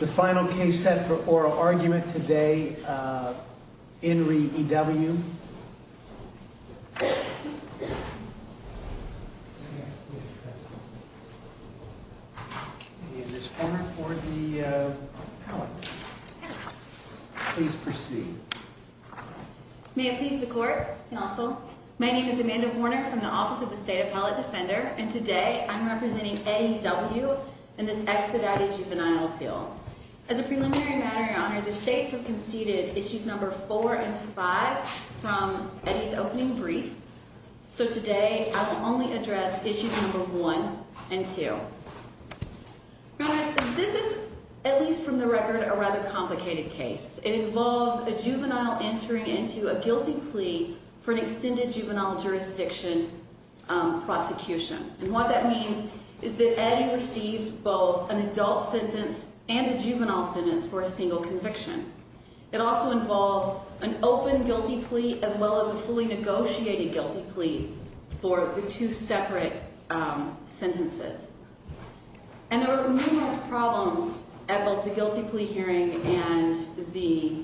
The final case set for oral argument today, uh, in re E.W. Is this for the, uh, appellate? Yes. Please proceed. May it please the court, counsel. My name is Amanda Warner from the Office of the State Appellate Defender, and today I'm representing Eddie W. in this expedited juvenile appeal. As a preliminary matter, Your Honor, the states have conceded issues number four and five from Eddie's opening brief, so today I will only address issues number one and two. Your Honor, this is, at least from the record, a rather complicated case. It involves a juvenile entering into a guilty plea for an extended juvenile jurisdiction, um, prosecution. And what that means is that Eddie received both an adult sentence and a juvenile sentence for a single conviction. It also involved an open guilty plea as well as a fully negotiated guilty plea for the two separate, um, sentences. And there were numerous problems at both the guilty plea hearing and the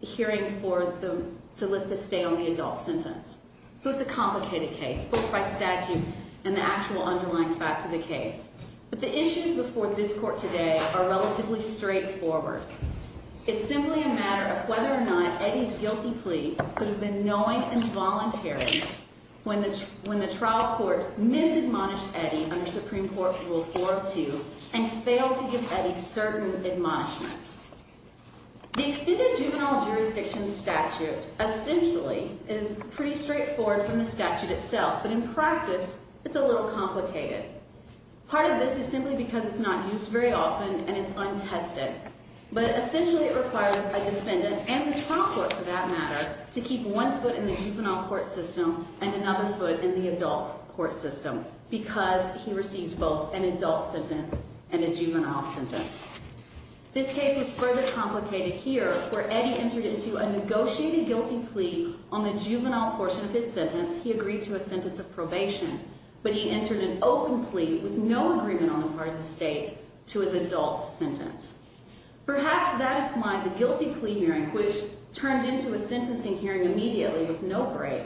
hearing for the, to lift the stay on the adult sentence. So it's a complicated case, both by statute and the actual underlying facts of the case. But the issues before this court today are relatively straightforward. It's simply a matter of whether or not Eddie's guilty plea could have been knowing and voluntary when the trial court misadmonished Eddie under Supreme Court Rule 4 of 2 and failed to give Eddie certain admonishments. The extended juvenile jurisdiction statute essentially is pretty straightforward from the statute itself, but in practice it's a little complicated. Part of this is simply because it's not used very often and it's untested. But essentially it requires a defendant, and the trial court for that matter, to keep one foot in the juvenile court system and another foot in the adult court system because he receives both an adult sentence and a juvenile sentence. This case was further complicated here where Eddie entered into a negotiated guilty plea on the juvenile portion of his sentence. He agreed to a sentence of probation, but he entered an open plea with no agreement on the part of the state to his adult sentence. Perhaps that is why the guilty plea hearing, which turned into a sentencing hearing immediately with no break,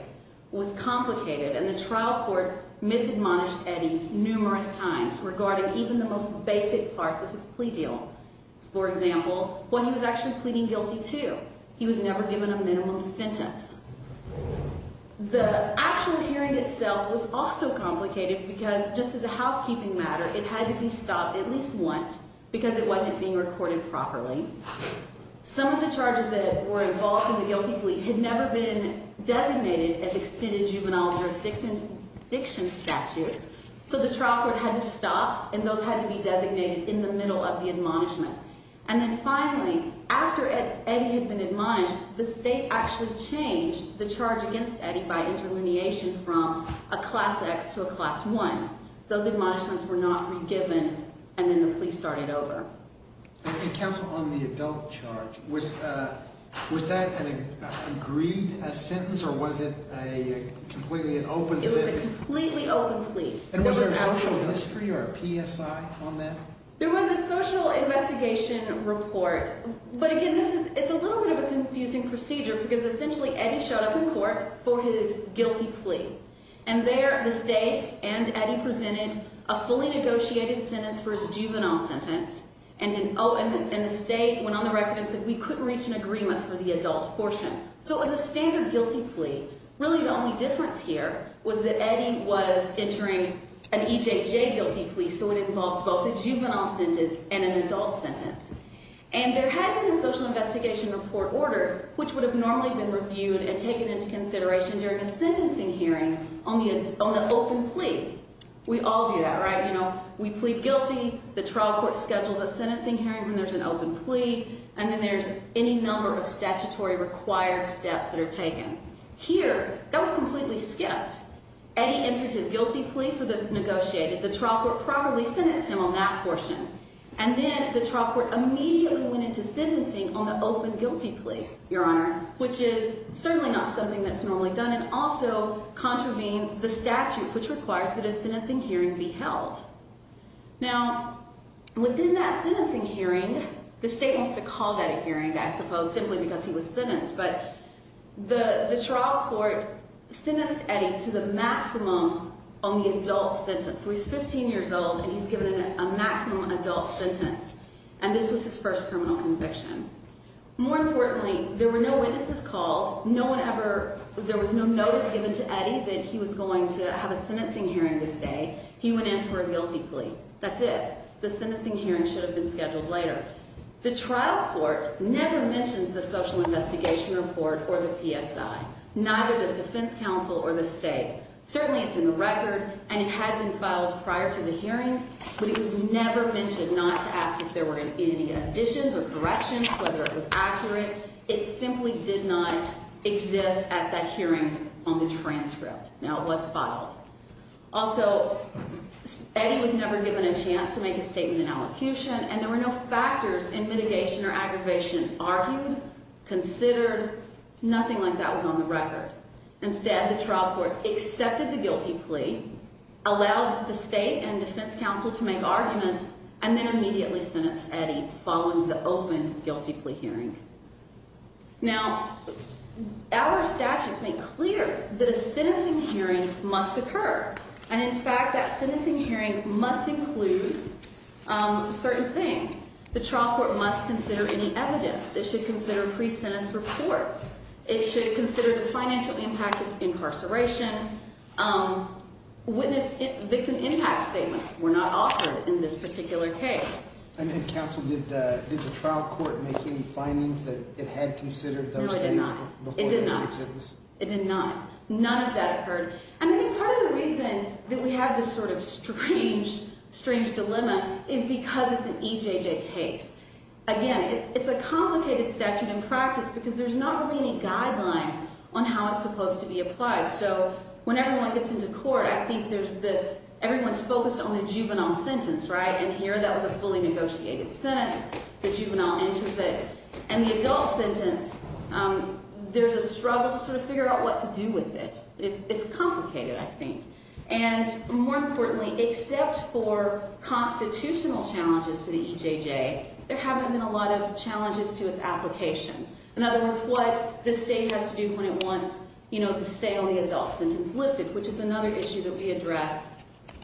was complicated and the trial court misadmonished Eddie numerous times regarding even the most basic parts of his plea deal. For example, what he was actually pleading guilty to. He was never given a minimum sentence. The actual hearing itself was also complicated because, just as a housekeeping matter, it had to be stopped at least once because it wasn't being recorded properly. Some of the charges that were involved in the guilty plea had never been designated as extended juvenile jurisdiction statutes, so the trial court had to stop and those had to be designated in the middle of the admonishments. And then finally, after Eddie had been admonished, the state actually changed the charge against Eddie by interlineation from a class X to a class 1. Those admonishments were not re-given and then the plea started over. And counsel, on the adult charge, was that an agreed sentence or was it a completely open sentence? It was a completely open plea. And was there a social mystery or a PSI on that? There was a social investigation report. But again, it's a little bit of a confusing procedure because essentially Eddie showed up in court for his guilty plea. And there the state and Eddie presented a fully negotiated sentence for his juvenile sentence. And the state went on the record and said we couldn't reach an agreement for the adult portion. So it was a standard guilty plea. Really the only difference here was that Eddie was entering an EJJ guilty plea, so it involved both a juvenile sentence and an adult sentence. And there had been a social investigation report ordered, which would have normally been reviewed and taken into consideration during a sentencing hearing on the open plea. We all do that, right? You know, we plead guilty, the trial court schedules a sentencing hearing when there's an open plea, and then there's any number of statutory required steps that are taken. Here, that was completely skipped. Eddie entered his guilty plea for the negotiated. The trial court properly sentenced him on that portion. And then the trial court immediately went into sentencing on the open guilty plea, Your Honor, which is certainly not something that's normally done and also contravenes the statute, which requires that a sentencing hearing be held. Now, within that sentencing hearing, the state wants to call that a hearing, I suppose, simply because he was sentenced. But the trial court sentenced Eddie to the maximum on the adult sentence. So he's 15 years old, and he's given a maximum adult sentence. And this was his first criminal conviction. More importantly, there were no witnesses called. No one ever – there was no notice given to Eddie that he was going to have a sentencing hearing this day. He went in for a guilty plea. That's it. The sentencing hearing should have been scheduled later. The trial court never mentions the social investigation report or the PSI, neither does defense counsel or the state. Certainly it's in the record, and it had been filed prior to the hearing, but it was never mentioned not to ask if there were going to be any additions or corrections, whether it was accurate. It simply did not exist at that hearing on the transcript. Now, it was filed. Also, Eddie was never given a chance to make a statement in allocution, and there were no factors in mitigation or aggravation argued, considered. Nothing like that was on the record. Instead, the trial court accepted the guilty plea, allowed the state and defense counsel to make arguments, and then immediately sentenced Eddie following the open guilty plea hearing. Now, our statutes make clear that a sentencing hearing must occur, and in fact that sentencing hearing must include certain things. The trial court must consider any evidence. It should consider pre-sentence reports. It should consider the financial impact of incarceration. Witness victim impact statements were not offered in this particular case. And then counsel, did the trial court make any findings that it had considered those things before the pre-sentence? It did not. It did not. None of that occurred. And I think part of the reason that we have this sort of strange dilemma is because it's an EJJ case. Again, it's a complicated statute in practice because there's not really any guidelines on how it's supposed to be applied. So when everyone gets into court, I think there's this everyone's focused on the juvenile sentence, right? And here that was a fully negotiated sentence. The juvenile enters it. And the adult sentence, there's a struggle to sort of figure out what to do with it. It's complicated, I think. And more importantly, except for constitutional challenges to the EJJ, there haven't been a lot of challenges to its application. In other words, what the state has to do when it wants, you know, the stay on the adult sentence lifted, which is another issue that we address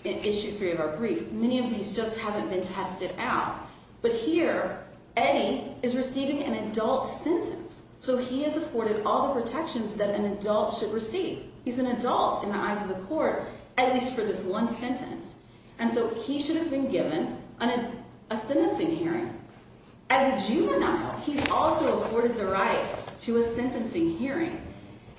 in Issue 3 of our brief. Many of these just haven't been tested out. But here, Eddie is receiving an adult sentence. So he has afforded all the protections that an adult should receive. He's an adult in the eyes of the court, at least for this one sentence. And so he should have been given a sentencing hearing. As a juvenile, he's also afforded the right to a sentencing hearing.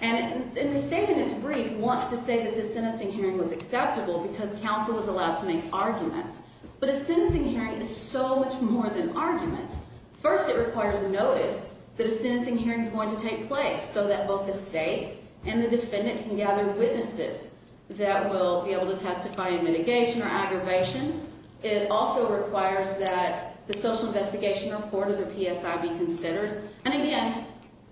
And the state in its brief wants to say that the sentencing hearing was acceptable because counsel was allowed to make arguments. But a sentencing hearing is so much more than arguments. First, it requires notice that a sentencing hearing is going to take place so that both the state and the defendant can gather witnesses that will be able to testify in mitigation or aggravation. It also requires that the social investigation report or the PSI be considered. And again,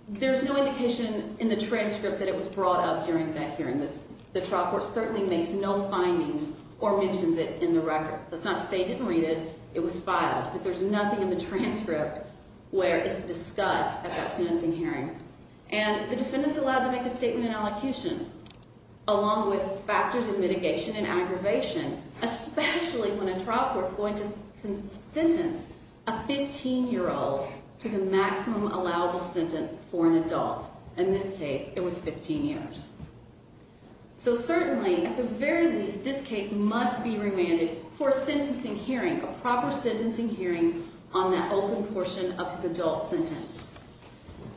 there's no indication in the transcript that it was brought up during that hearing. The trial court certainly makes no findings or mentions it in the record. That's not to say it didn't read it. It was filed. But there's nothing in the transcript where it's discussed at that sentencing hearing. And the defendant's allowed to make a statement in elocution, along with factors in mitigation and aggravation, especially when a trial court's going to sentence a 15-year-old to the maximum allowable sentence for an adult. In this case, it was 15 years. So certainly, at the very least, this case must be remanded for a sentencing hearing, a proper sentencing hearing on that open portion of his adult sentence.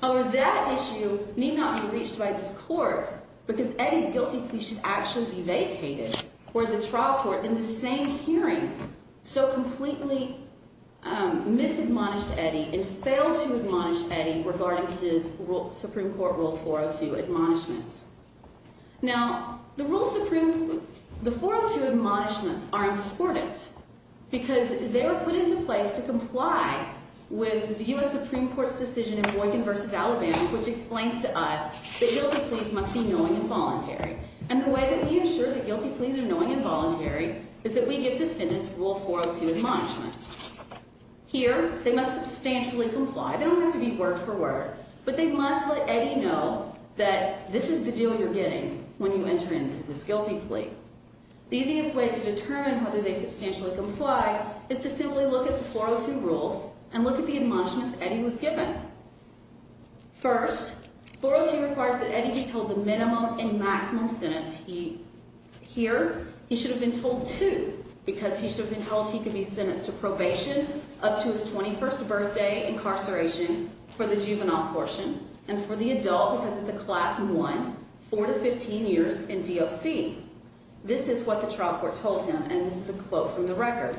Over that issue need not be reached by this court because Eddie's guilty plea should actually be vacated for the trial court in the same hearing. So completely misadmonished Eddie and failed to admonish Eddie regarding his Supreme Court Rule 402 admonishments. Now, the Rule 402 admonishments are important because they were put into place to comply with the U.S. Supreme Court's decision in Boykin v. Alabama, which explains to us that guilty pleas must be knowing and voluntary. And the way that we assure that guilty pleas are knowing and voluntary is that we give defendants Rule 402 admonishments. Here, they must substantially comply. They don't have to be word for word, but they must let Eddie know that this is the deal you're getting when you enter into this guilty plea. The easiest way to determine whether they substantially comply is to simply look at the 402 rules and look at the admonishments Eddie was given. First, 402 requires that Eddie be told the minimum and maximum sentence. Here, he should have been told two because he should have been told he could be sentenced to probation up to his 21st birthday incarceration for the juvenile portion and for the adult because it's a Class 1, 4 to 15 years in DOC. This is what the trial court told him, and this is a quote from the record.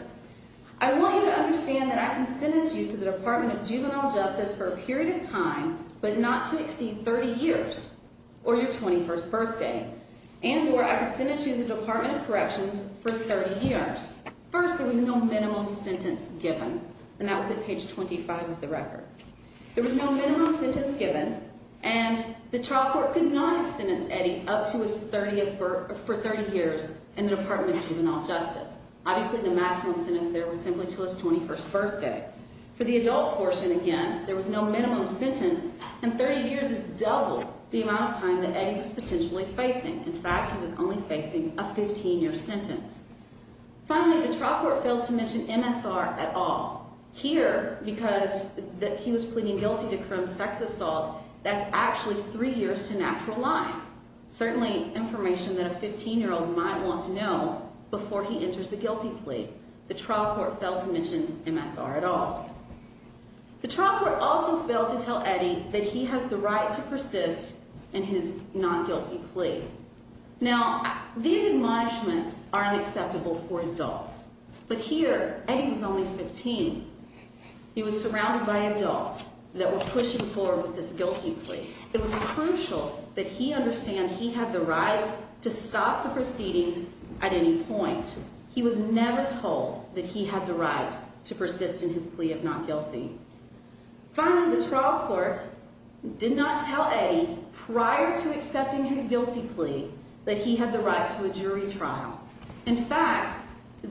I want you to understand that I can sentence you to the Department of Juvenile Justice for a period of time, but not to exceed 30 years or your 21st birthday, and or I can sentence you to the Department of Corrections for 30 years. First, there was no minimum sentence given, and that was at page 25 of the record. There was no minimum sentence given, and the trial court could not have sentenced Eddie up to his 30th birth for 30 years in the Department of Juvenile Justice. Obviously, the maximum sentence there was simply to his 21st birthday. For the adult portion, again, there was no minimum sentence, and 30 years is double the amount of time that Eddie was potentially facing. In fact, he was only facing a 15-year sentence. Finally, the trial court failed to mention MSR at all. Here, because he was pleading guilty to criminal sex assault, that's actually three years to natural life. Certainly information that a 15-year-old might want to know before he enters a guilty plea. The trial court failed to mention MSR at all. The trial court also failed to tell Eddie that he has the right to persist in his non-guilty plea. Now, these admonishments are unacceptable for adults, but here, Eddie was only 15. He was surrounded by adults that were pushing forward with this guilty plea. It was crucial that he understand he had the right to stop the proceedings at any point. He was never told that he had the right to persist in his plea of not guilty. Finally, the trial court did not tell Eddie prior to accepting his guilty plea that he had the right to a jury trial. In fact,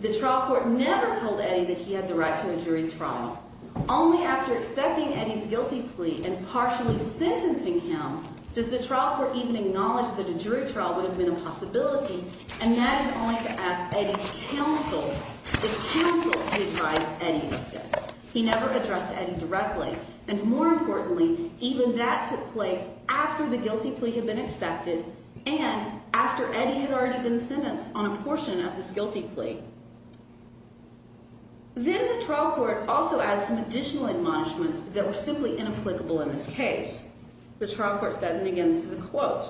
the trial court never told Eddie that he had the right to a jury trial. Now, only after accepting Eddie's guilty plea and partially sentencing him, does the trial court even acknowledge that a jury trial would have been a possibility, and that is only to ask Eddie's counsel, the counsel who advised Eddie of this. He never addressed Eddie directly. And more importantly, even that took place after the guilty plea had been accepted and after Eddie had already been sentenced on a portion of this guilty plea. Then the trial court also adds some additional admonishments that were simply inapplicable in this case. The trial court said, and again, this is a quote,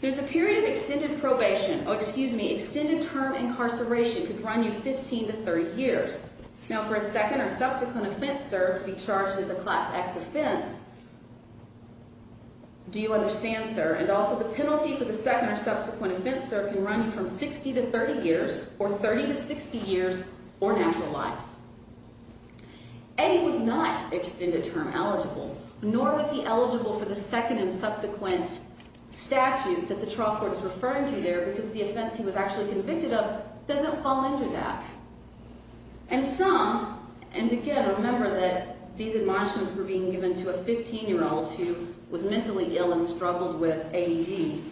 there's a period of extended probation, oh, excuse me, extended term incarceration could run you 15 to 30 years. Now, for a second or subsequent offense, sir, to be charged as a class X offense, do you understand, sir? And also the penalty for the second or subsequent offense, sir, can run you from 60 to 30 years, or 30 to 60 years, or natural life. Eddie was not extended term eligible, nor was he eligible for the second and subsequent statute that the trial court is referring to there because the offense he was actually convicted of doesn't fall into that. And some, and again, remember that these admonishments were being given to a 15-year-old who was mentally ill and struggled with ADD,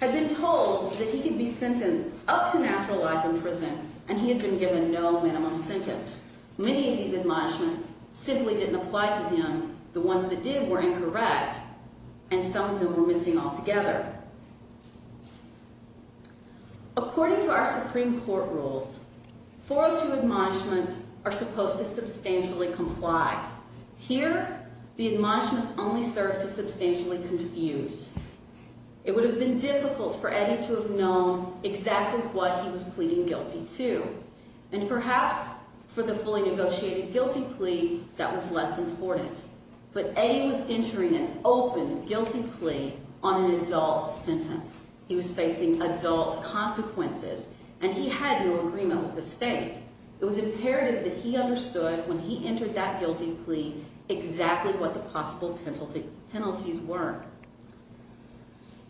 had been told that he could be sentenced up to natural life in prison, and he had been given no minimum sentence. Many of these admonishments simply didn't apply to him. The ones that did were incorrect, and some of them were missing altogether. According to our Supreme Court rules, 402 admonishments are supposed to substantially comply. Here, the admonishments only serve to substantially confuse. It would have been difficult for Eddie to have known exactly what he was pleading guilty to, and perhaps for the fully negotiated guilty plea, that was less important. But Eddie was entering an open guilty plea on an adult sentence. He was facing adult consequences, and he had no agreement with the state. It was imperative that he understood, when he entered that guilty plea, exactly what the possible penalties were.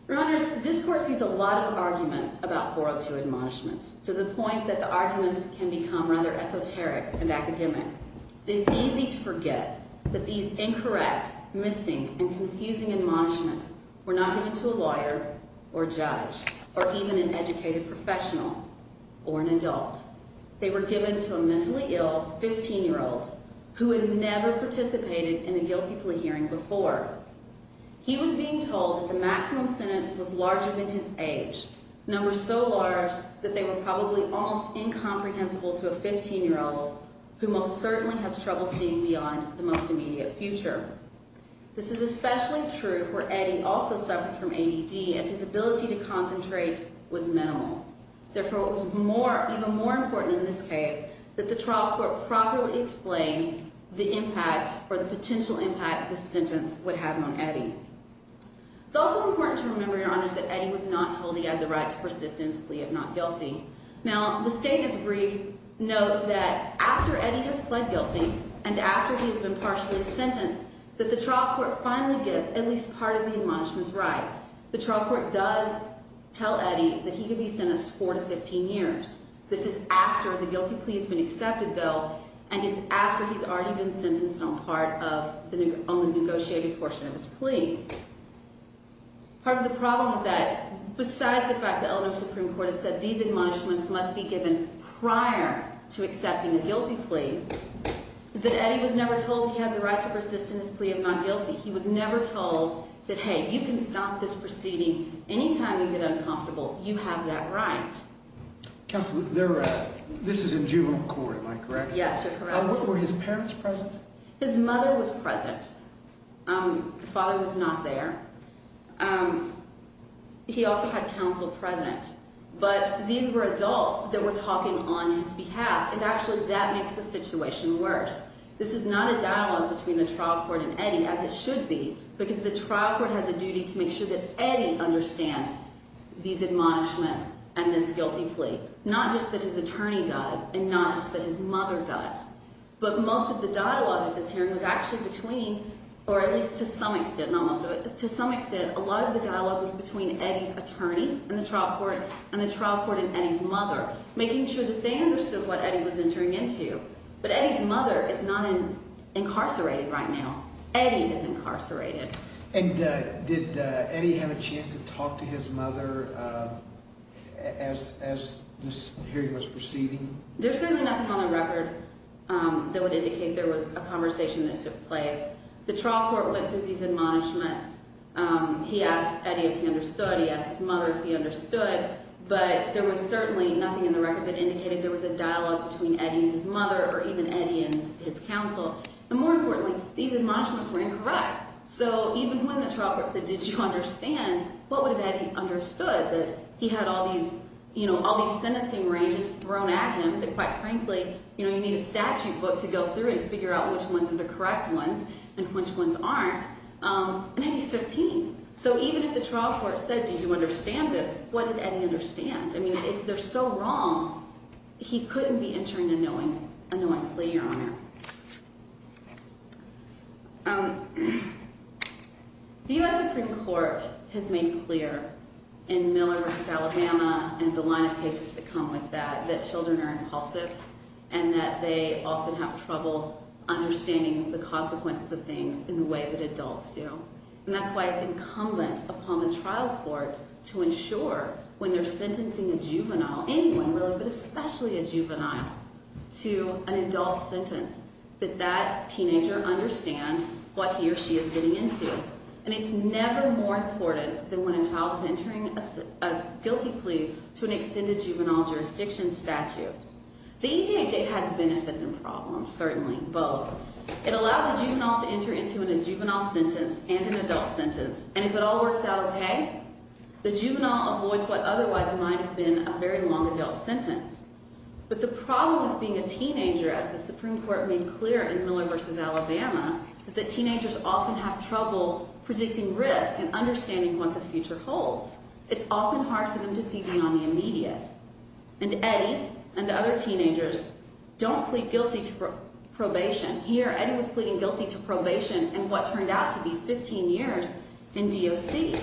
Your Honors, this Court sees a lot of arguments about 402 admonishments, to the point that the arguments can become rather esoteric and academic. It is easy to forget that these incorrect, missing, and confusing admonishments were not given to a lawyer or a judge or even an educated professional or an adult. They were given to a mentally ill 15-year-old who had never participated in a guilty plea hearing before. He was being told that the maximum sentence was larger than his age, numbers so large that they were probably almost incomprehensible to a 15-year-old who most certainly has trouble seeing beyond the most immediate future. This is especially true where Eddie also suffered from ADD, and his ability to concentrate was minimal. Therefore, it was even more important in this case that the trial court properly explain the impact or the potential impact of this sentence would have on Eddie. It's also important to remember, Your Honors, that Eddie was not told he had the right to persistently plead not guilty. Now, the state in its brief notes that after Eddie has pled guilty and after he has been partially sentenced, that the trial court finally gets at least part of the admonishment's right. The trial court does tell Eddie that he could be sentenced to 4 to 15 years. This is after the guilty plea has been accepted, though, and it's after he's already been sentenced on part of the negotiated portion of his plea. Part of the problem with that, besides the fact that Eleanor's Supreme Court has said these admonishments must be given prior to accepting a guilty plea, is that Eddie was never told he had the right to persist in his plea of not guilty. He was never told that, hey, you can stop this proceeding any time you get uncomfortable. You have that right. Counsel, this is in juvenile court, am I correct? Yes, you're correct. Were his parents present? His mother was present. The father was not there. He also had counsel present, but these were adults that were talking on his behalf, and actually that makes the situation worse. This is not a dialogue between the trial court and Eddie, as it should be, because the trial court has a duty to make sure that Eddie understands these admonishments and this guilty plea, not just that his attorney dies and not just that his mother dies. But most of the dialogue at this hearing was actually between, or at least to some extent, not most of it, to some extent, a lot of the dialogue was between Eddie's attorney and the trial court and the trial court and Eddie's mother, making sure that they understood what Eddie was entering into. But Eddie's mother is not incarcerated right now. Eddie is incarcerated. And did Eddie have a chance to talk to his mother as this hearing was proceeding? There's certainly nothing on the record that would indicate there was a conversation that took place. The trial court went through these admonishments. He asked Eddie if he understood. He asked his mother if he understood. But there was certainly nothing in the record that indicated there was a dialogue between Eddie and his mother or even Eddie and his counsel. And more importantly, these admonishments were incorrect. So even when the trial court said, did you understand, what would have Eddie understood? That he had all these sentencing ranges thrown at him that, quite frankly, you need a statute book to go through and figure out which ones are the correct ones and which ones aren't. And Eddie's 15. So even if the trial court said, do you understand this, what did Eddie understand? I mean, if they're so wrong, he couldn't be entering a knowing plea, Your Honor. The U.S. Supreme Court has made clear in Miller v. Alabama and the line of cases that come with that that children are impulsive and that they often have trouble understanding the consequences of things in the way that adults do. And that's why it's incumbent upon the trial court to ensure when they're sentencing a juvenile, anyone really, but especially a juvenile, to an adult sentence, that that teenager understand what he or she is getting into. And it's never more important than when a child is entering a guilty plea to an extended juvenile jurisdiction statute. The EJJ has benefits and problems, certainly, both. It allows a juvenile to enter into a juvenile sentence and an adult sentence. And if it all works out okay, the juvenile avoids what otherwise might have been a very long adult sentence. But the problem with being a teenager, as the Supreme Court made clear in Miller v. Alabama, is that teenagers often have trouble predicting risk and understanding what the future holds. It's often hard for them to see beyond the immediate. Here, Eddie was pleading guilty to probation in what turned out to be 15 years in DOC.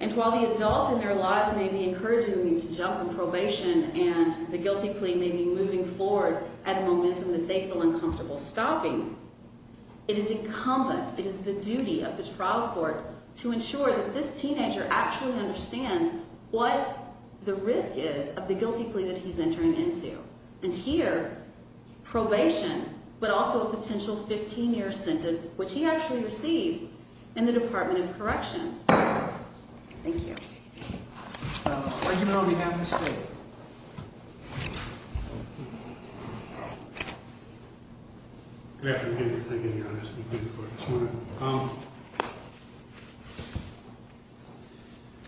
And while the adults in their lives may be encouraging him to jump on probation and the guilty plea may be moving forward at a moment in which they feel uncomfortable stopping, it is incumbent, it is the duty of the trial court to ensure that this teenager actually understands what the risk is of the guilty plea that he's entering into. And here, probation, but also a potential 15-year sentence, which he actually received in the Department of Corrections. Thank you. Argument on behalf of the state. Good afternoon, Your Honor. It's good to be before you this morning.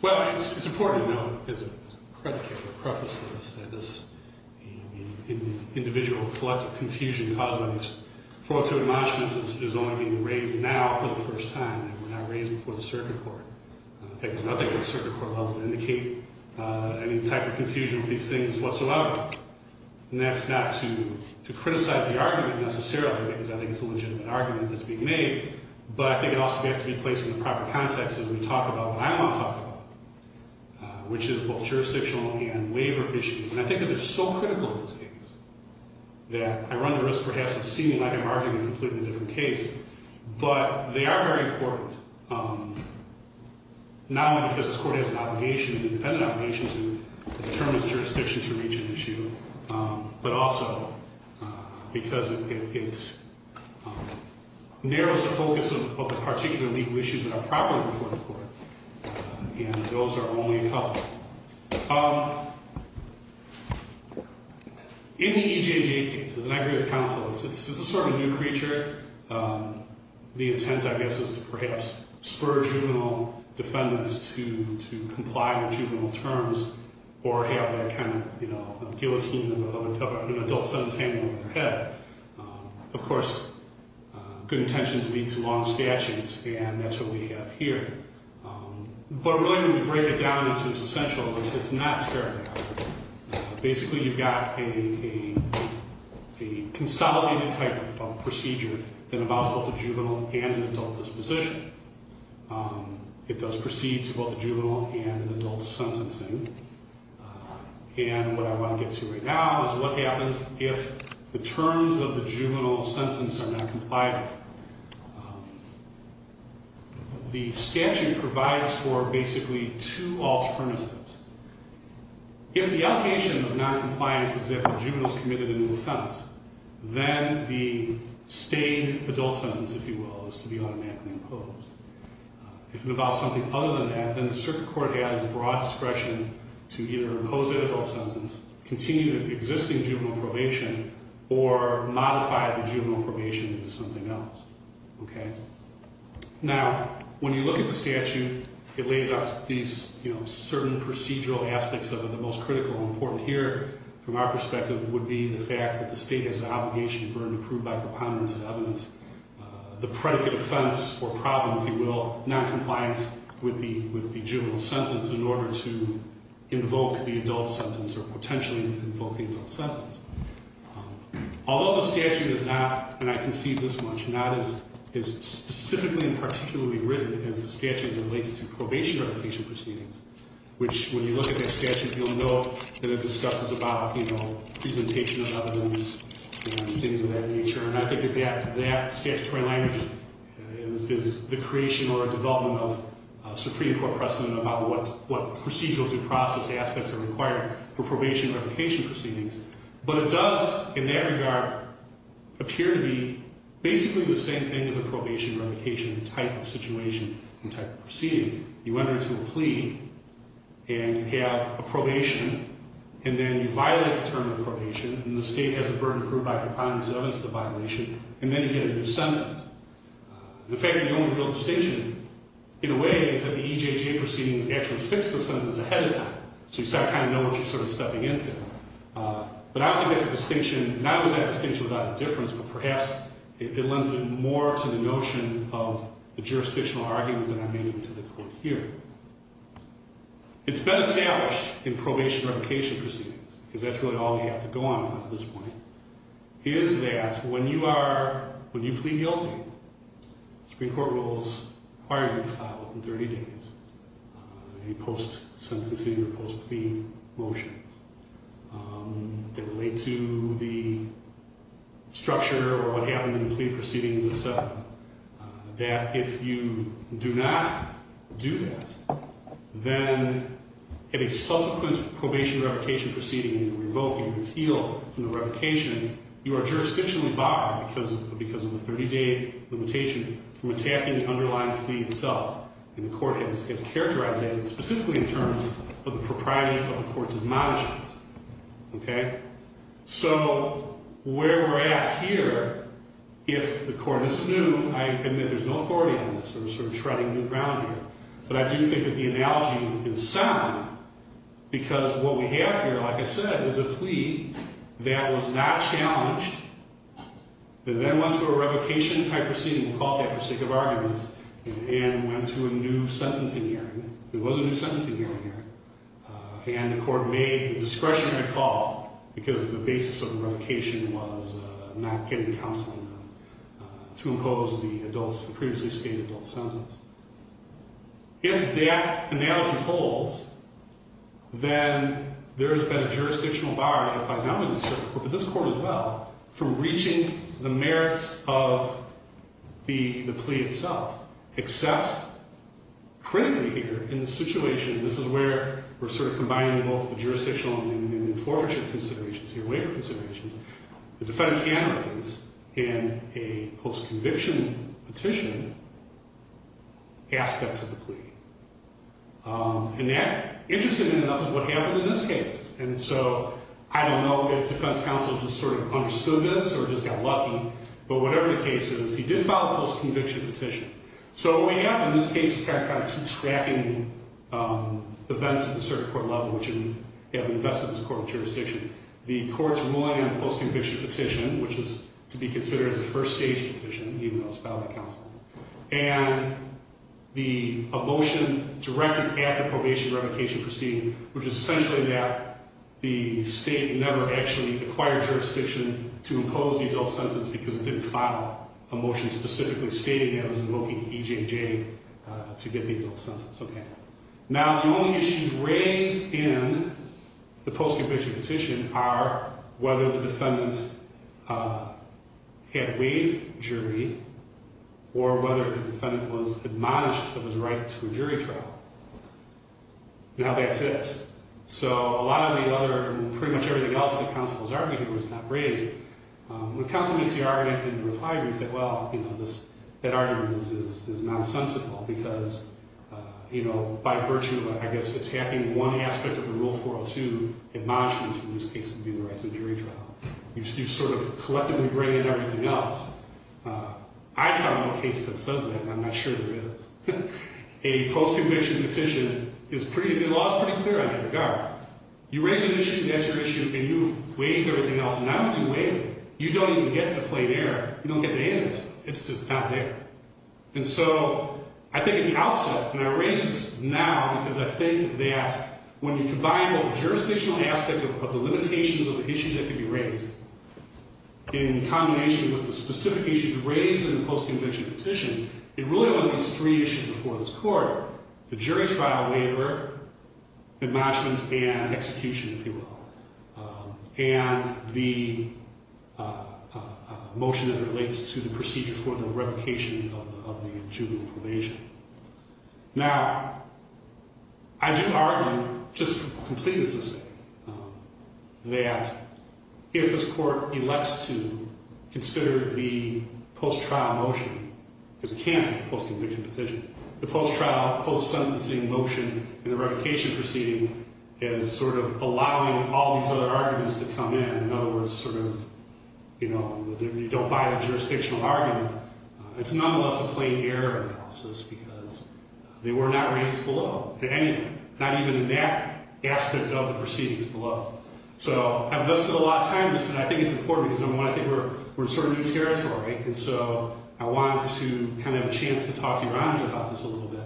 Well, it's important to note, as a predicate, a preface to this, that this individual collective confusion caused by these fraudulent launchments is only being raised now for the first time and were not raised before the circuit court. There's nothing in the circuit court held to indicate any type of confusion with these things whatsoever. And that's not to criticize the argument necessarily, because I think it's a legitimate argument that's being made, but I think it also has to be placed in the proper context as we talk about what I want to talk about, which is both jurisdictional and waiver issues. And I think that they're so critical in these cases that I run the risk, perhaps, of seeming like I'm arguing a completely different case. But they are very important, not only because this court has an obligation, an independent obligation, to determine its jurisdiction to reach an issue, but also because it narrows the focus of the particular legal issues that are properly before the court. And those are only a couple. In the EJJ case, as an aggregate of counsel, it's a sort of new creature. The intent, I guess, is to perhaps spur juvenile defendants to comply with juvenile terms or have that kind of guillotine of an adult son's hanging over their head. Of course, good intentions lead to long statutes, and that's what we have here. But I'm willing to break it down into its essentials. It's not terribly complicated. Basically, you've got a consolidated type of procedure that involves both a juvenile and an adult disposition. It does proceed to both a juvenile and an adult sentencing. And what I want to get to right now is what happens if the terms of the juvenile sentence are not compliant. The statute provides for basically two alternatives. If the allocation of noncompliance is that the juvenile is committed a new offense, then the staying adult sentence, if you will, is to be automatically imposed. If it involves something other than that, then the circuit court has broad discretion to either impose an adult sentence, continue the existing juvenile probation, or modify the juvenile probation into something else. Now, when you look at the statute, it lays out these certain procedural aspects of it. The most critical and important here, from our perspective, would be the fact that the state has an obligation to burn and prove by preponderance of evidence the predicate offense or problem, if you will, noncompliance with the juvenile sentence in order to invoke the adult sentence or potentially invoke the adult sentence. Although the statute is not, and I can see this much, not as specifically and particularly written as the statute relates to probation or evocation proceedings, which, when you look at that statute, you'll note that it discusses about, you know, presentation of evidence and things of that nature. And I think that that statutory language is the creation or development of a Supreme Court precedent about what procedural due process aspects are required for probation or evocation proceedings. But it does, in that regard, appear to be basically the same thing as a probation or evocation type of situation and type of proceeding. You enter into a plea, and you have a probation, and then you violate the term of probation, and the state has the burden to prove by preponderance of evidence the violation, and then you get a new sentence. The fact that the only real distinction, in a way, is that the EJJ proceedings actually fix the sentence ahead of time, so you start to kind of know what you're sort of stepping into. But I don't think there's a distinction, not always a distinction without a difference, but perhaps it lends more to the notion of the jurisdictional argument that I'm making to the court here. It's been established in probation or evocation proceedings, because that's really all we have to go on at this point, is that when you are, when you plead guilty, Supreme Court rules require you to file within 30 days a post-sentencing or post-plea motion that relate to the structure or what happened in the plea proceedings itself, that if you do not do that, then at a subsequent probation or evocation proceeding, you revoke, you repeal from the revocation, you are jurisdictionally barred because of the 30-day limitation from attacking the underlying plea itself. And the court has characterized that specifically in terms of the propriety of the court's admonishments. Okay? So where we're at here, if the court is new, I admit there's no authority on this. We're sort of treading new ground here. But I do think that the analogy is sound, because what we have here, like I said, is a plea that was not challenged, that then went to a revocation-type proceeding, called that for sake of arguments, and went to a new sentencing hearing. There was a new sentencing hearing here. And the court made the discretion to call, because the basis of the revocation was not getting counseling done to impose the adults, the previously stated adult sentence. If that analogy holds, then there has been a jurisdictional bar that applies not only to this court, but this court as well, from reaching the merits of the plea itself. Except, critically here, in this situation, this is where we're sort of combining both the jurisdictional and the enforcement considerations here, waiver considerations, the defendant can raise, in a post-conviction petition, aspects of the plea. And that, interestingly enough, is what happened in this case. And so, I don't know if defense counsel just sort of understood this, or just got lucky, but whatever the case is, he did file a post-conviction petition. So what we have in this case is kind of two tracking events at the circuit court level, which have invested in this court of jurisdiction. The court's ruling on the post-conviction petition, which is to be considered a first-stage petition, even though it's filed by counsel. And the motion directed at the probation revocation proceeding, which is essentially that the state never actually acquired jurisdiction to impose the adult sentence because it didn't file a motion specifically stating that it was invoking EJJ to get the adult sentence. Now, the only issues raised in the post-conviction petition are whether the defendant had waived jury, or whether the defendant was admonished of his right to a jury trial. Now, that's it. So a lot of the other, pretty much everything else that counsel was arguing was not raised. When counsel makes the argument, I agree with that. Well, you know, that argument is nonsensical because, you know, by virtue of, I guess, attacking one aspect of the Rule 402, admonishment in this case would be the right to a jury trial. You sort of collectively bring in everything else. I found no case that says that, and I'm not sure there is. A post-conviction petition is pretty, the law is pretty clear on that regard. You raise an issue, that's your issue, and you've waived everything else. Now that you've waived it, you don't even get to play there. You don't get to end it. It's just not there. And so I think at the outset, and I raise this now because I think that when you combine both the jurisdictional aspect of the limitations of the issues that could be raised in combination with the specific issues raised in the post-conviction petition, it really only leaves three issues before this Court, the jury trial waiver, admonishment, and execution, if you will. And the motion that relates to the procedure for the revocation of the juvenile probation. Now, I do argue, just completely as I say, that if this Court elects to consider the post-trial motion as a candidate for post-conviction petition, the post-trial, post-sentencing motion in the revocation proceeding is sort of allowing all these other arguments to come in. In other words, sort of, you know, you don't buy a jurisdictional argument. It's nonetheless a plain error analysis because they were not raised below at any point. Not even in that aspect of the proceedings below. So I've listed a lot of times, but I think it's important because, number one, I think we're sort of new territory. And so I want to kind of have a chance to talk to your honors about this a little bit.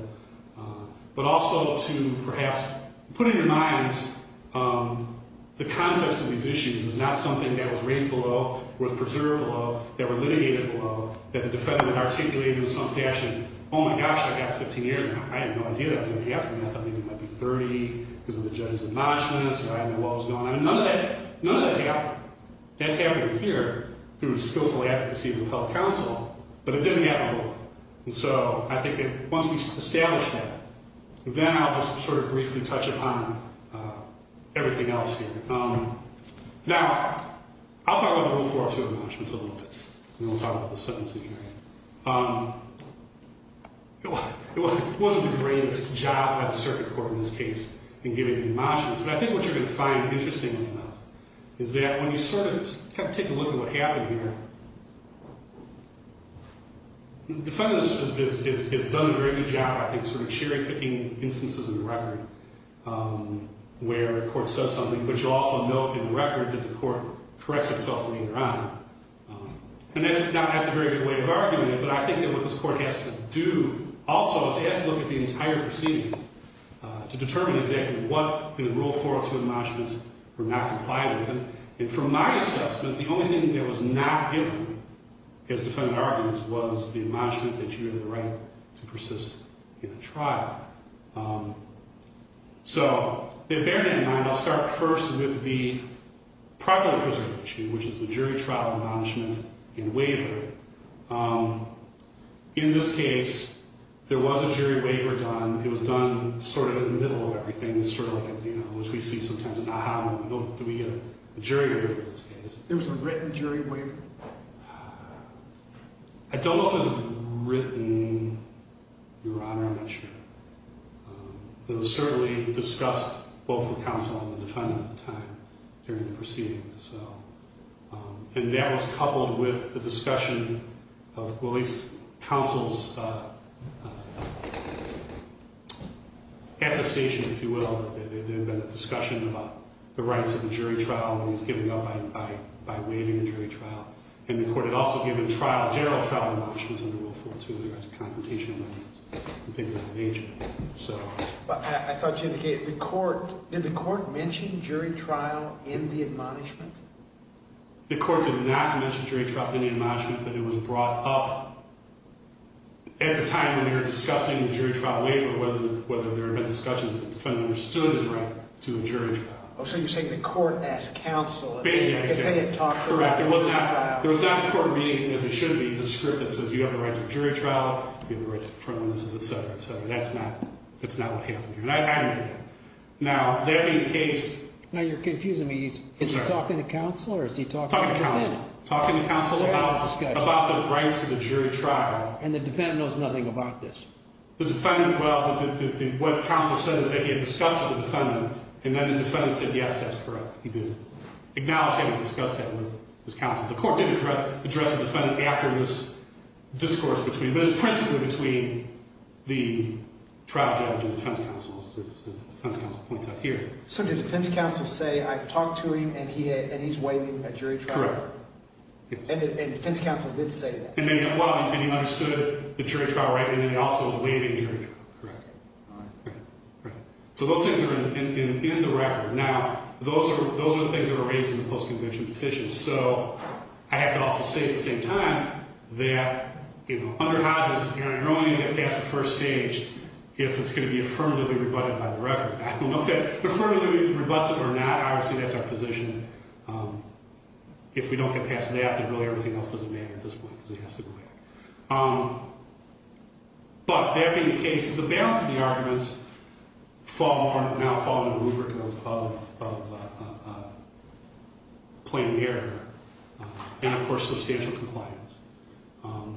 But also to perhaps put in your minds the context of these issues is not something that was raised below, was preserved below, that were litigated below, that the defendant articulated in some fashion, oh, my gosh, I've got 15 years. I had no idea that was going to happen. I thought maybe it might be 30 because of the judge's admonishments or I didn't know what was going on. But none of that happened. That's happening here through the skillful advocacy of the public counsel, but it didn't happen below. And so I think that once we establish that, then I'll just sort of briefly touch upon everything else here. Now, I'll talk about the Rule 402 admonishments a little bit, and then we'll talk about the sentencing hearing. It wasn't the greatest job by the circuit court in this case in giving the admonishments, but I think what you're going to find interesting enough is that when you sort of take a look at what happened here, the defendant has done a very good job, I think, sort of cherry-picking instances in the record where a court says something, but you'll also note in the record that the court corrects itself later on. And that's a very good way of arguing it, but I think that what this court has to do also is it has to look at the entire proceedings to determine exactly what in the Rule 402 admonishments were not complied with. And from my assessment, the only thing that was not given as defendant arguments was the admonishment that you have the right to persist in a trial. So bearing that in mind, I'll start first with the prior preservation, which is the jury trial admonishment and waiver. In this case, there was a jury waiver done. It was done sort of in the middle of everything, sort of like, you know, which we see sometimes an ah-ha moment. Do we get a jury waiver in this case? There was a written jury waiver? I don't know if it was written, Your Honor, I'm not sure. It was certainly discussed both with counsel and the defendant at the time during the proceedings. And that was coupled with the discussion of police counsel's attestation, if you will, that there had been a discussion about the rights of the jury trial and it was given up by waiving the jury trial. And the court had also given trial, general trial admonishments under Rule 402, the rights of confrontation and things of that nature. I thought you indicated the court, did the court mention jury trial in the admonishment? The court did not mention jury trial in the admonishment, but it was brought up at the time when they were discussing the jury trial waiver, whether there had been discussions that the defendant understood his right to a jury trial. Oh, so you're saying the court asked counsel if they had talked about jury trial. That's correct. There was not the court reading, as it should be, the script that says you have the right to a jury trial, you have the right to confrontation, et cetera, et cetera. That's not what happened here, and I admit that. Now, that being the case. Now, you're confusing me. Is he talking to counsel or is he talking to the defendant? Talking to counsel. Talking to counsel about the rights of the jury trial. And the defendant knows nothing about this? The defendant, well, what counsel said is that he had discussed with the defendant, and then the defendant said, yes, that's correct, he did. He acknowledged having discussed that with his counsel. The court didn't address the defendant after this discourse, but it was principally between the trial judge and defense counsel, as defense counsel points out here. So did defense counsel say, I've talked to him, and he's waiving a jury trial? Correct. And defense counsel did say that? And he understood the jury trial right, and then he also was waiving jury trial. Correct. Right. So those things are in the record. Now, those are the things that were raised in the post-convention petition. So I have to also say at the same time that, you know, under Hodges, you're only going to get past the first stage if it's going to be affirmatively rebutted by the record. I don't know if that affirmatively rebutts it or not. Obviously, that's our position. If we don't get past that, then really everything else doesn't matter at this point because it has to go back. But that being the case, the balance of the arguments now fall under the rubric of plain air and, of course, substantial compliance. I'll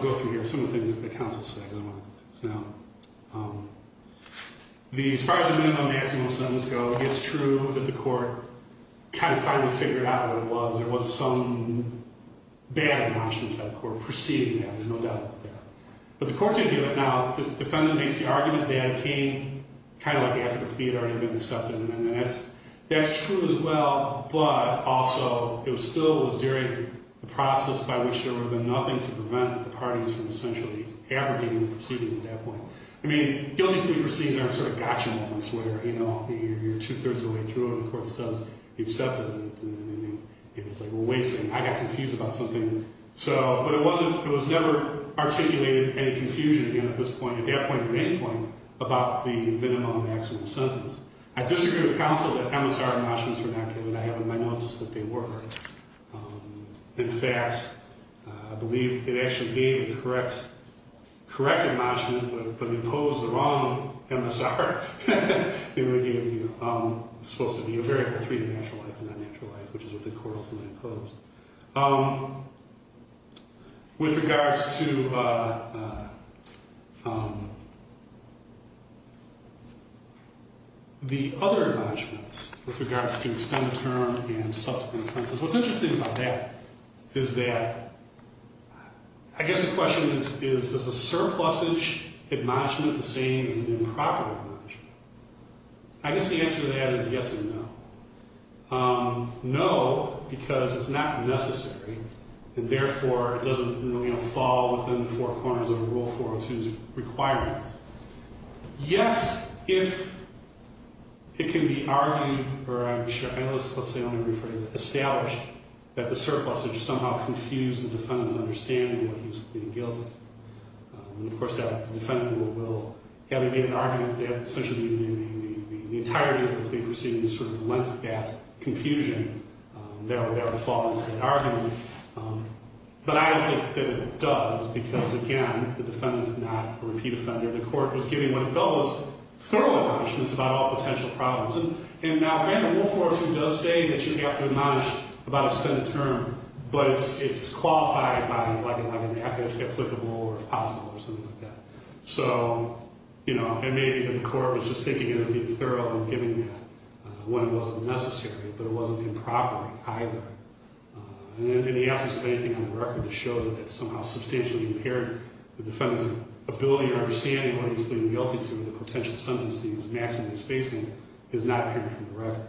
go through here some of the things that the counsel said because I want to get through this now. As far as the minimum and maximum sentence go, it's true that the court kind of finally figured out what it was. There was some bad in Washington federal court preceding that. There's no doubt about that. But the court did do it. Now, the defendant makes the argument that it came kind of like after he had already been accepted, and that's true as well. But also, it still was during the process by which there would have been nothing to prevent the parties from essentially abrogating the proceedings at that point. I mean, guilty plea proceedings aren't sort of gotcha moments where, you know, you're two-thirds of the way through and the court says he accepted and it was like, well, wait a second. I got confused about something. But it was never articulated any confusion again at this point, at that point or any point, about the minimum and maximum sentence. I disagree with counsel that MSR enrochments were not given. I have in my notes that they were. In fact, I believe it actually gave the correct enrochment but imposed the wrong MSR. It was supposed to be a variable three to natural life and not natural life, which is what the court ultimately imposed. With regards to the other enrochments, with regards to extended term and subsequent sentences, what's interesting about that is that I guess the question is, is a surplusage enrochment the same as an improper enrochment? I guess the answer to that is yes and no. No, because it's not necessary and, therefore, it doesn't really fall within the four corners of Rule 402's requirements. Yes, if it can be argued or I'm sure I know this, let's say, I'm going to rephrase it, established that the surplusage somehow confused the defendant's understanding that he's being guilty. And, of course, that defendant will, having made an argument that essentially the entirety of the plea proceedings sort of lent that confusion, that would fall into that argument. But I don't think that it does because, again, the defendant's not a repeat offender. The court was giving what it felt was thorough enrochments about all potential problems. And now we have a rule for us that does say that you have to admonish about extended term, but it's qualified by like an applicable or possible or something like that. So, you know, and maybe the court was just thinking it would be thorough in giving that when it wasn't necessary, but it wasn't improper either. And the absence of anything on the record to show that that somehow substantially impaired the defendant's ability or understanding what he's being guilty to or the potential sentence that he was maximally facing is not appearing from the record.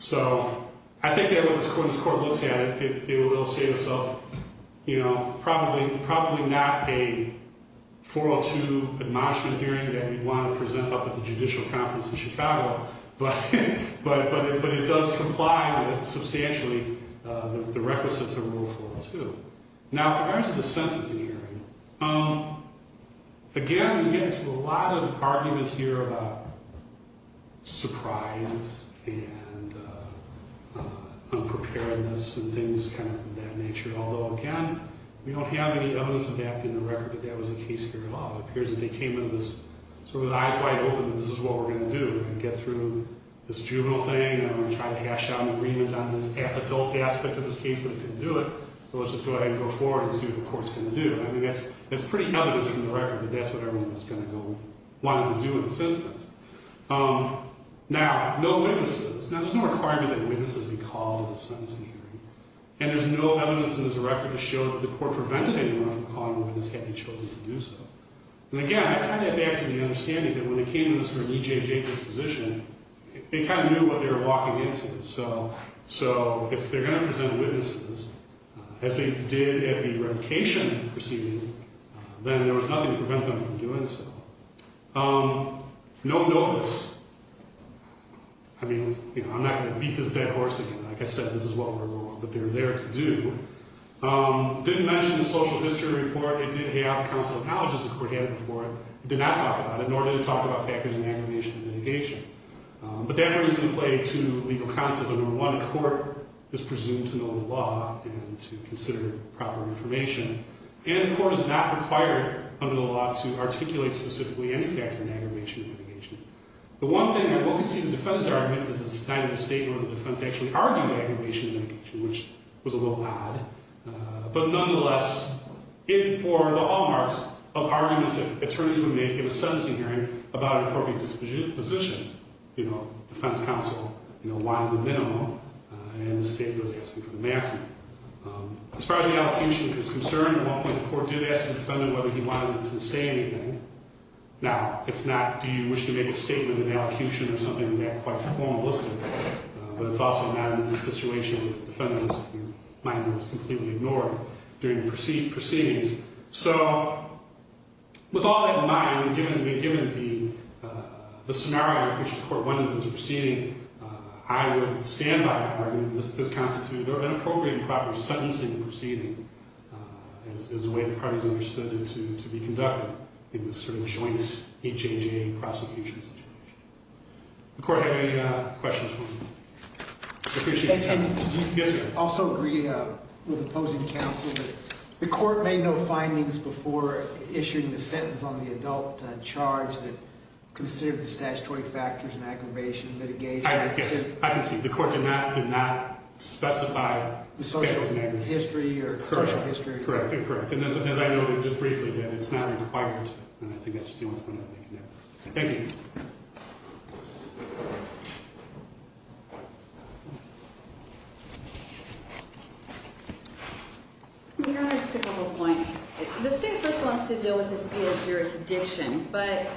So I think that when this court looks at it, it will say to itself, you know, probably not a 402 admonishment hearing that we'd want to present up at the judicial conference in Chicago, but it does comply with substantially the requisites of Rule 402. Now, in regards to the sentencing hearing, again, we get into a lot of arguments here about surprise and unpreparedness and things kind of of that nature. Although, again, we don't have any evidence of that in the record, but that was the case here at all. It appears that they came into this sort of with eyes wide open that this is what we're going to do. We're going to get through this juvenile thing and we're going to try to hash out an agreement on the adult aspect of this case, but it didn't do it. So let's just go ahead and go forward and see what the court's going to do. I mean, that's pretty elegant from the record, but that's what everyone was going to want to do in this instance. Now, no witnesses. Now, there's no requirement that witnesses be called to the sentencing hearing, and there's no evidence in this record to show that the court prevented anyone from calling the witness had they chosen to do so. And, again, I tie that back to the understanding that when they came to this sort of EJJ disposition, they kind of knew what they were walking into. So if they're going to present witnesses, as they did at the revocation proceeding, then there was nothing to prevent them from doing so. No notice. I mean, you know, I'm not going to beat this dead horse again. Like I said, this is what we're going to do, but they're there to do. Didn't mention the social history report. It did have counsel acknowledges that were handed before it. It did not talk about it, nor did it talk about factors in aggravation and mitigation. But that brings into play two legal concepts. Number one, the court is presumed to know the law and to consider proper information. And the court is not required under the law to articulate specifically any factor in aggravation and mitigation. The one thing that will concede the defense argument is it's neither the state nor the defense actually argued aggravation and mitigation, which was a little odd. But nonetheless, it bore the hallmarks of arguments that attorneys would make in a sentencing hearing about an appropriate disposition. You know, defense counsel, you know, wanted the minimum, and the state was asking for the maximum. As far as the allocution is concerned, at one point the court did ask the defendant whether he wanted to say anything. Now, it's not do you wish to make a statement in the allocution or something that quite formalistic. But it's also a matter of the situation of the defendant's mind was completely ignored during the proceedings. So, with all that in mind, given the scenario in which the court won the proceeding, I would stand by the argument that this constitutes an appropriate and proper sentencing proceeding, as the way the parties understood it to be conducted in this sort of joint HHAA prosecution situation. Does the court have any questions for me? I appreciate your time. Yes, sir. I also agree with opposing counsel that the court made no findings before issuing the sentence on the adult charge that considered the statutory factors in aggravation and mitigation. I can see. The court did not specify the specials name. The social history or social history. Correct. And as I noted just briefly, it's not required. And I think that's just the only point I'm making there. Thank you. Your Honor, just a couple of points. The state first wants to deal with this via jurisdiction, but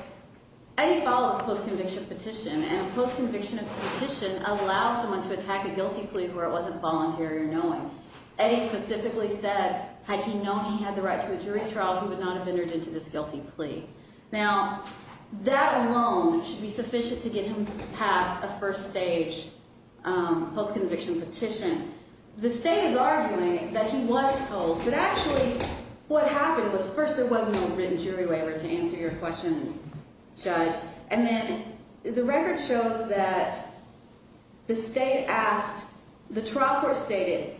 Eddie filed a post-conviction petition, and a post-conviction petition allows someone to attack a guilty plea where it wasn't voluntary or knowing. Eddie specifically said, had he known he had the right to a jury trial, he would not have entered into this guilty plea. Now, that alone should be sufficient to get him past a first-stage post-conviction petition. The state is arguing that he was told, but actually what happened was, first, there was no written jury waiver to answer your question, Judge. And then the record shows that the state asked, the trial court stated,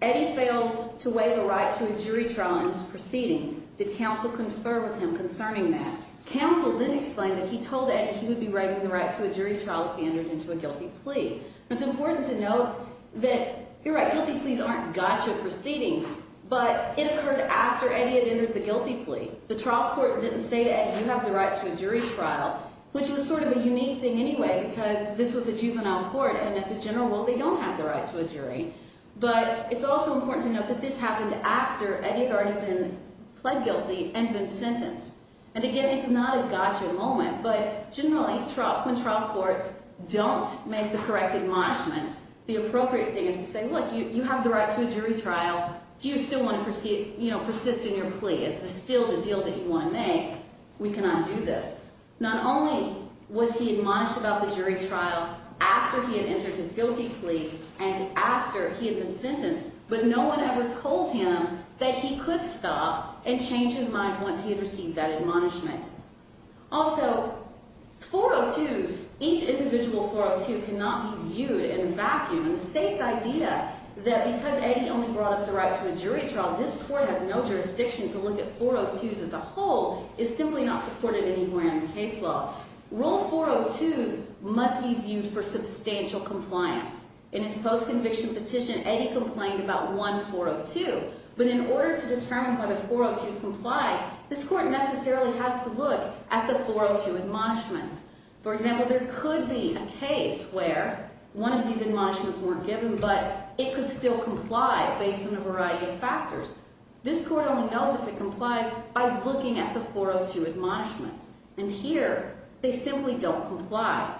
Eddie failed to waive a right to a jury trial in his proceeding. Did counsel confer with him concerning that? Counsel then explained that he told Eddie he would be waiving the right to a jury trial if he entered into a guilty plea. It's important to note that, you're right, guilty pleas aren't gotcha proceedings, but it occurred after Eddie had entered the guilty plea. The trial court didn't say to Eddie, you have the right to a jury trial, which was sort of a unique thing anyway because this was a juvenile court, and as a general rule, they don't have the right to a jury. But it's also important to note that this happened after Eddie had already been pled guilty and been sentenced. And again, it's not a gotcha moment, but generally, when trial courts don't make the correct admonishments, the appropriate thing is to say, look, you have the right to a jury trial. Do you still want to persist in your plea? Is this still the deal that you want to make? We cannot do this. Not only was he admonished about the jury trial after he had entered his guilty plea and after he had been sentenced, but no one ever told him that he could stop and change his mind once he had received that admonishment. Also, 402s, each individual 402 cannot be viewed in a vacuum. And the state's idea that because Eddie only brought up the right to a jury trial, this court has no jurisdiction to look at 402s as a whole is simply not supported anywhere in the case law. Rule 402s must be viewed for substantial compliance. In his post-conviction petition, Eddie complained about one 402, but in order to determine whether 402s comply, this court necessarily has to look at the 402 admonishments. For example, there could be a case where one of these admonishments weren't given, but it could still comply based on a variety of factors. This court only knows if it complies by looking at the 402 admonishments. And here, they simply don't comply.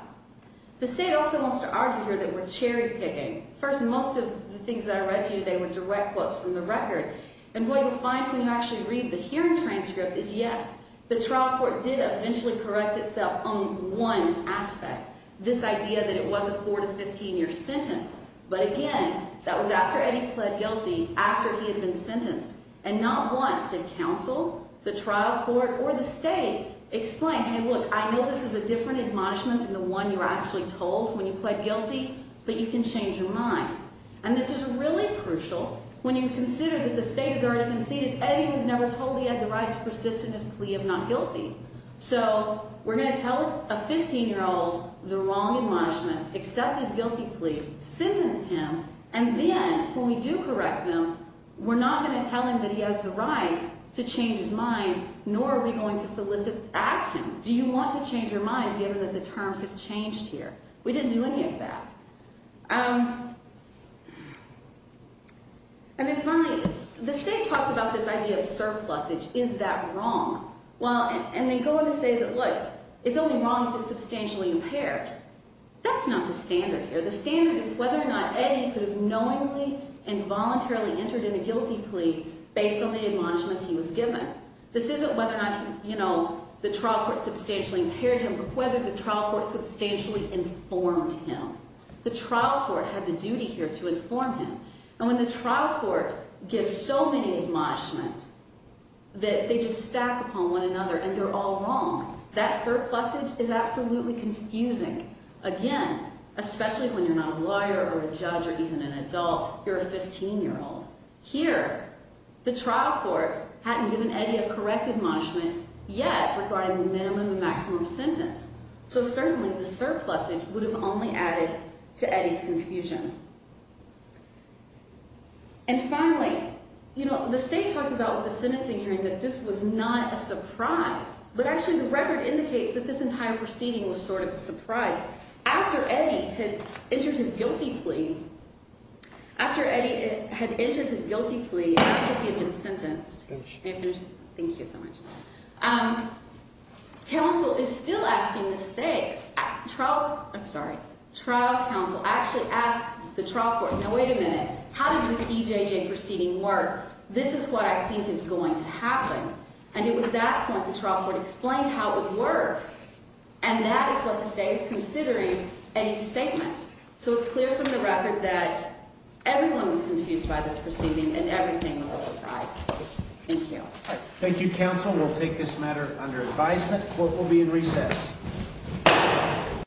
The state also wants to argue here that we're cherry-picking. First, most of the things that I read to you today were direct quotes from the record. And what you'll find when you actually read the hearing transcript is, yes, the trial court did eventually correct itself on one aspect, this idea that it was a 4-15-year sentence. But again, that was after Eddie pled guilty, after he had been sentenced, and not once did counsel, the trial court, or the state explain, hey, look, I know this is a different admonishment than the one you're actually told when you pled guilty, but you can change your mind. And this is really crucial when you consider that the state has already conceded that Eddie was never told he had the right to persist in his plea of not guilty. So we're going to tell a 15-year-old the wrong admonishments, accept his guilty plea, sentence him, and then when we do correct them, we're not going to tell him that he has the right to change his mind, nor are we going to solicit, ask him, do you want to change your mind given that the terms have changed here? We didn't do any of that. And then finally, the state talks about this idea of surplusage. Is that wrong? And they go on to say that, look, it's only wrong if he's substantially impaired. That's not the standard here. The standard is whether or not Eddie could have knowingly and voluntarily entered in a guilty plea based on the admonishments he was given. This isn't whether or not the trial court substantially impaired him, but whether the trial court substantially informed him. The trial court had the duty here to inform him. And when the trial court gives so many admonishments that they just stack upon one another and they're all wrong, that surplusage is absolutely confusing. Again, especially when you're not a lawyer or a judge or even an adult, you're a 15-year-old. Here, the trial court hadn't given Eddie a correct admonishment yet regarding the minimum and maximum sentence. So certainly the surplusage would have only added to Eddie's confusion. And finally, you know, the state talks about with the sentencing hearing that this was not a surprise, but actually the record indicates that this entire proceeding was sort of a surprise. After Eddie had entered his guilty plea, after Eddie had entered his guilty plea, after he had been sentenced, and I finished this, thank you so much, counsel is still asking the state, trial, I'm sorry, trial counsel actually asked the trial court, now wait a minute, how does this EJJ proceeding work? This is what I think is going to happen. And it was that point the trial court explained how it would work. And that is what the state is considering Eddie's statement. So it's clear from the record that everyone was confused by this proceeding and everything was a surprise. Thank you. Thank you, counsel. We'll take this matter under advisement. Court will be in recess.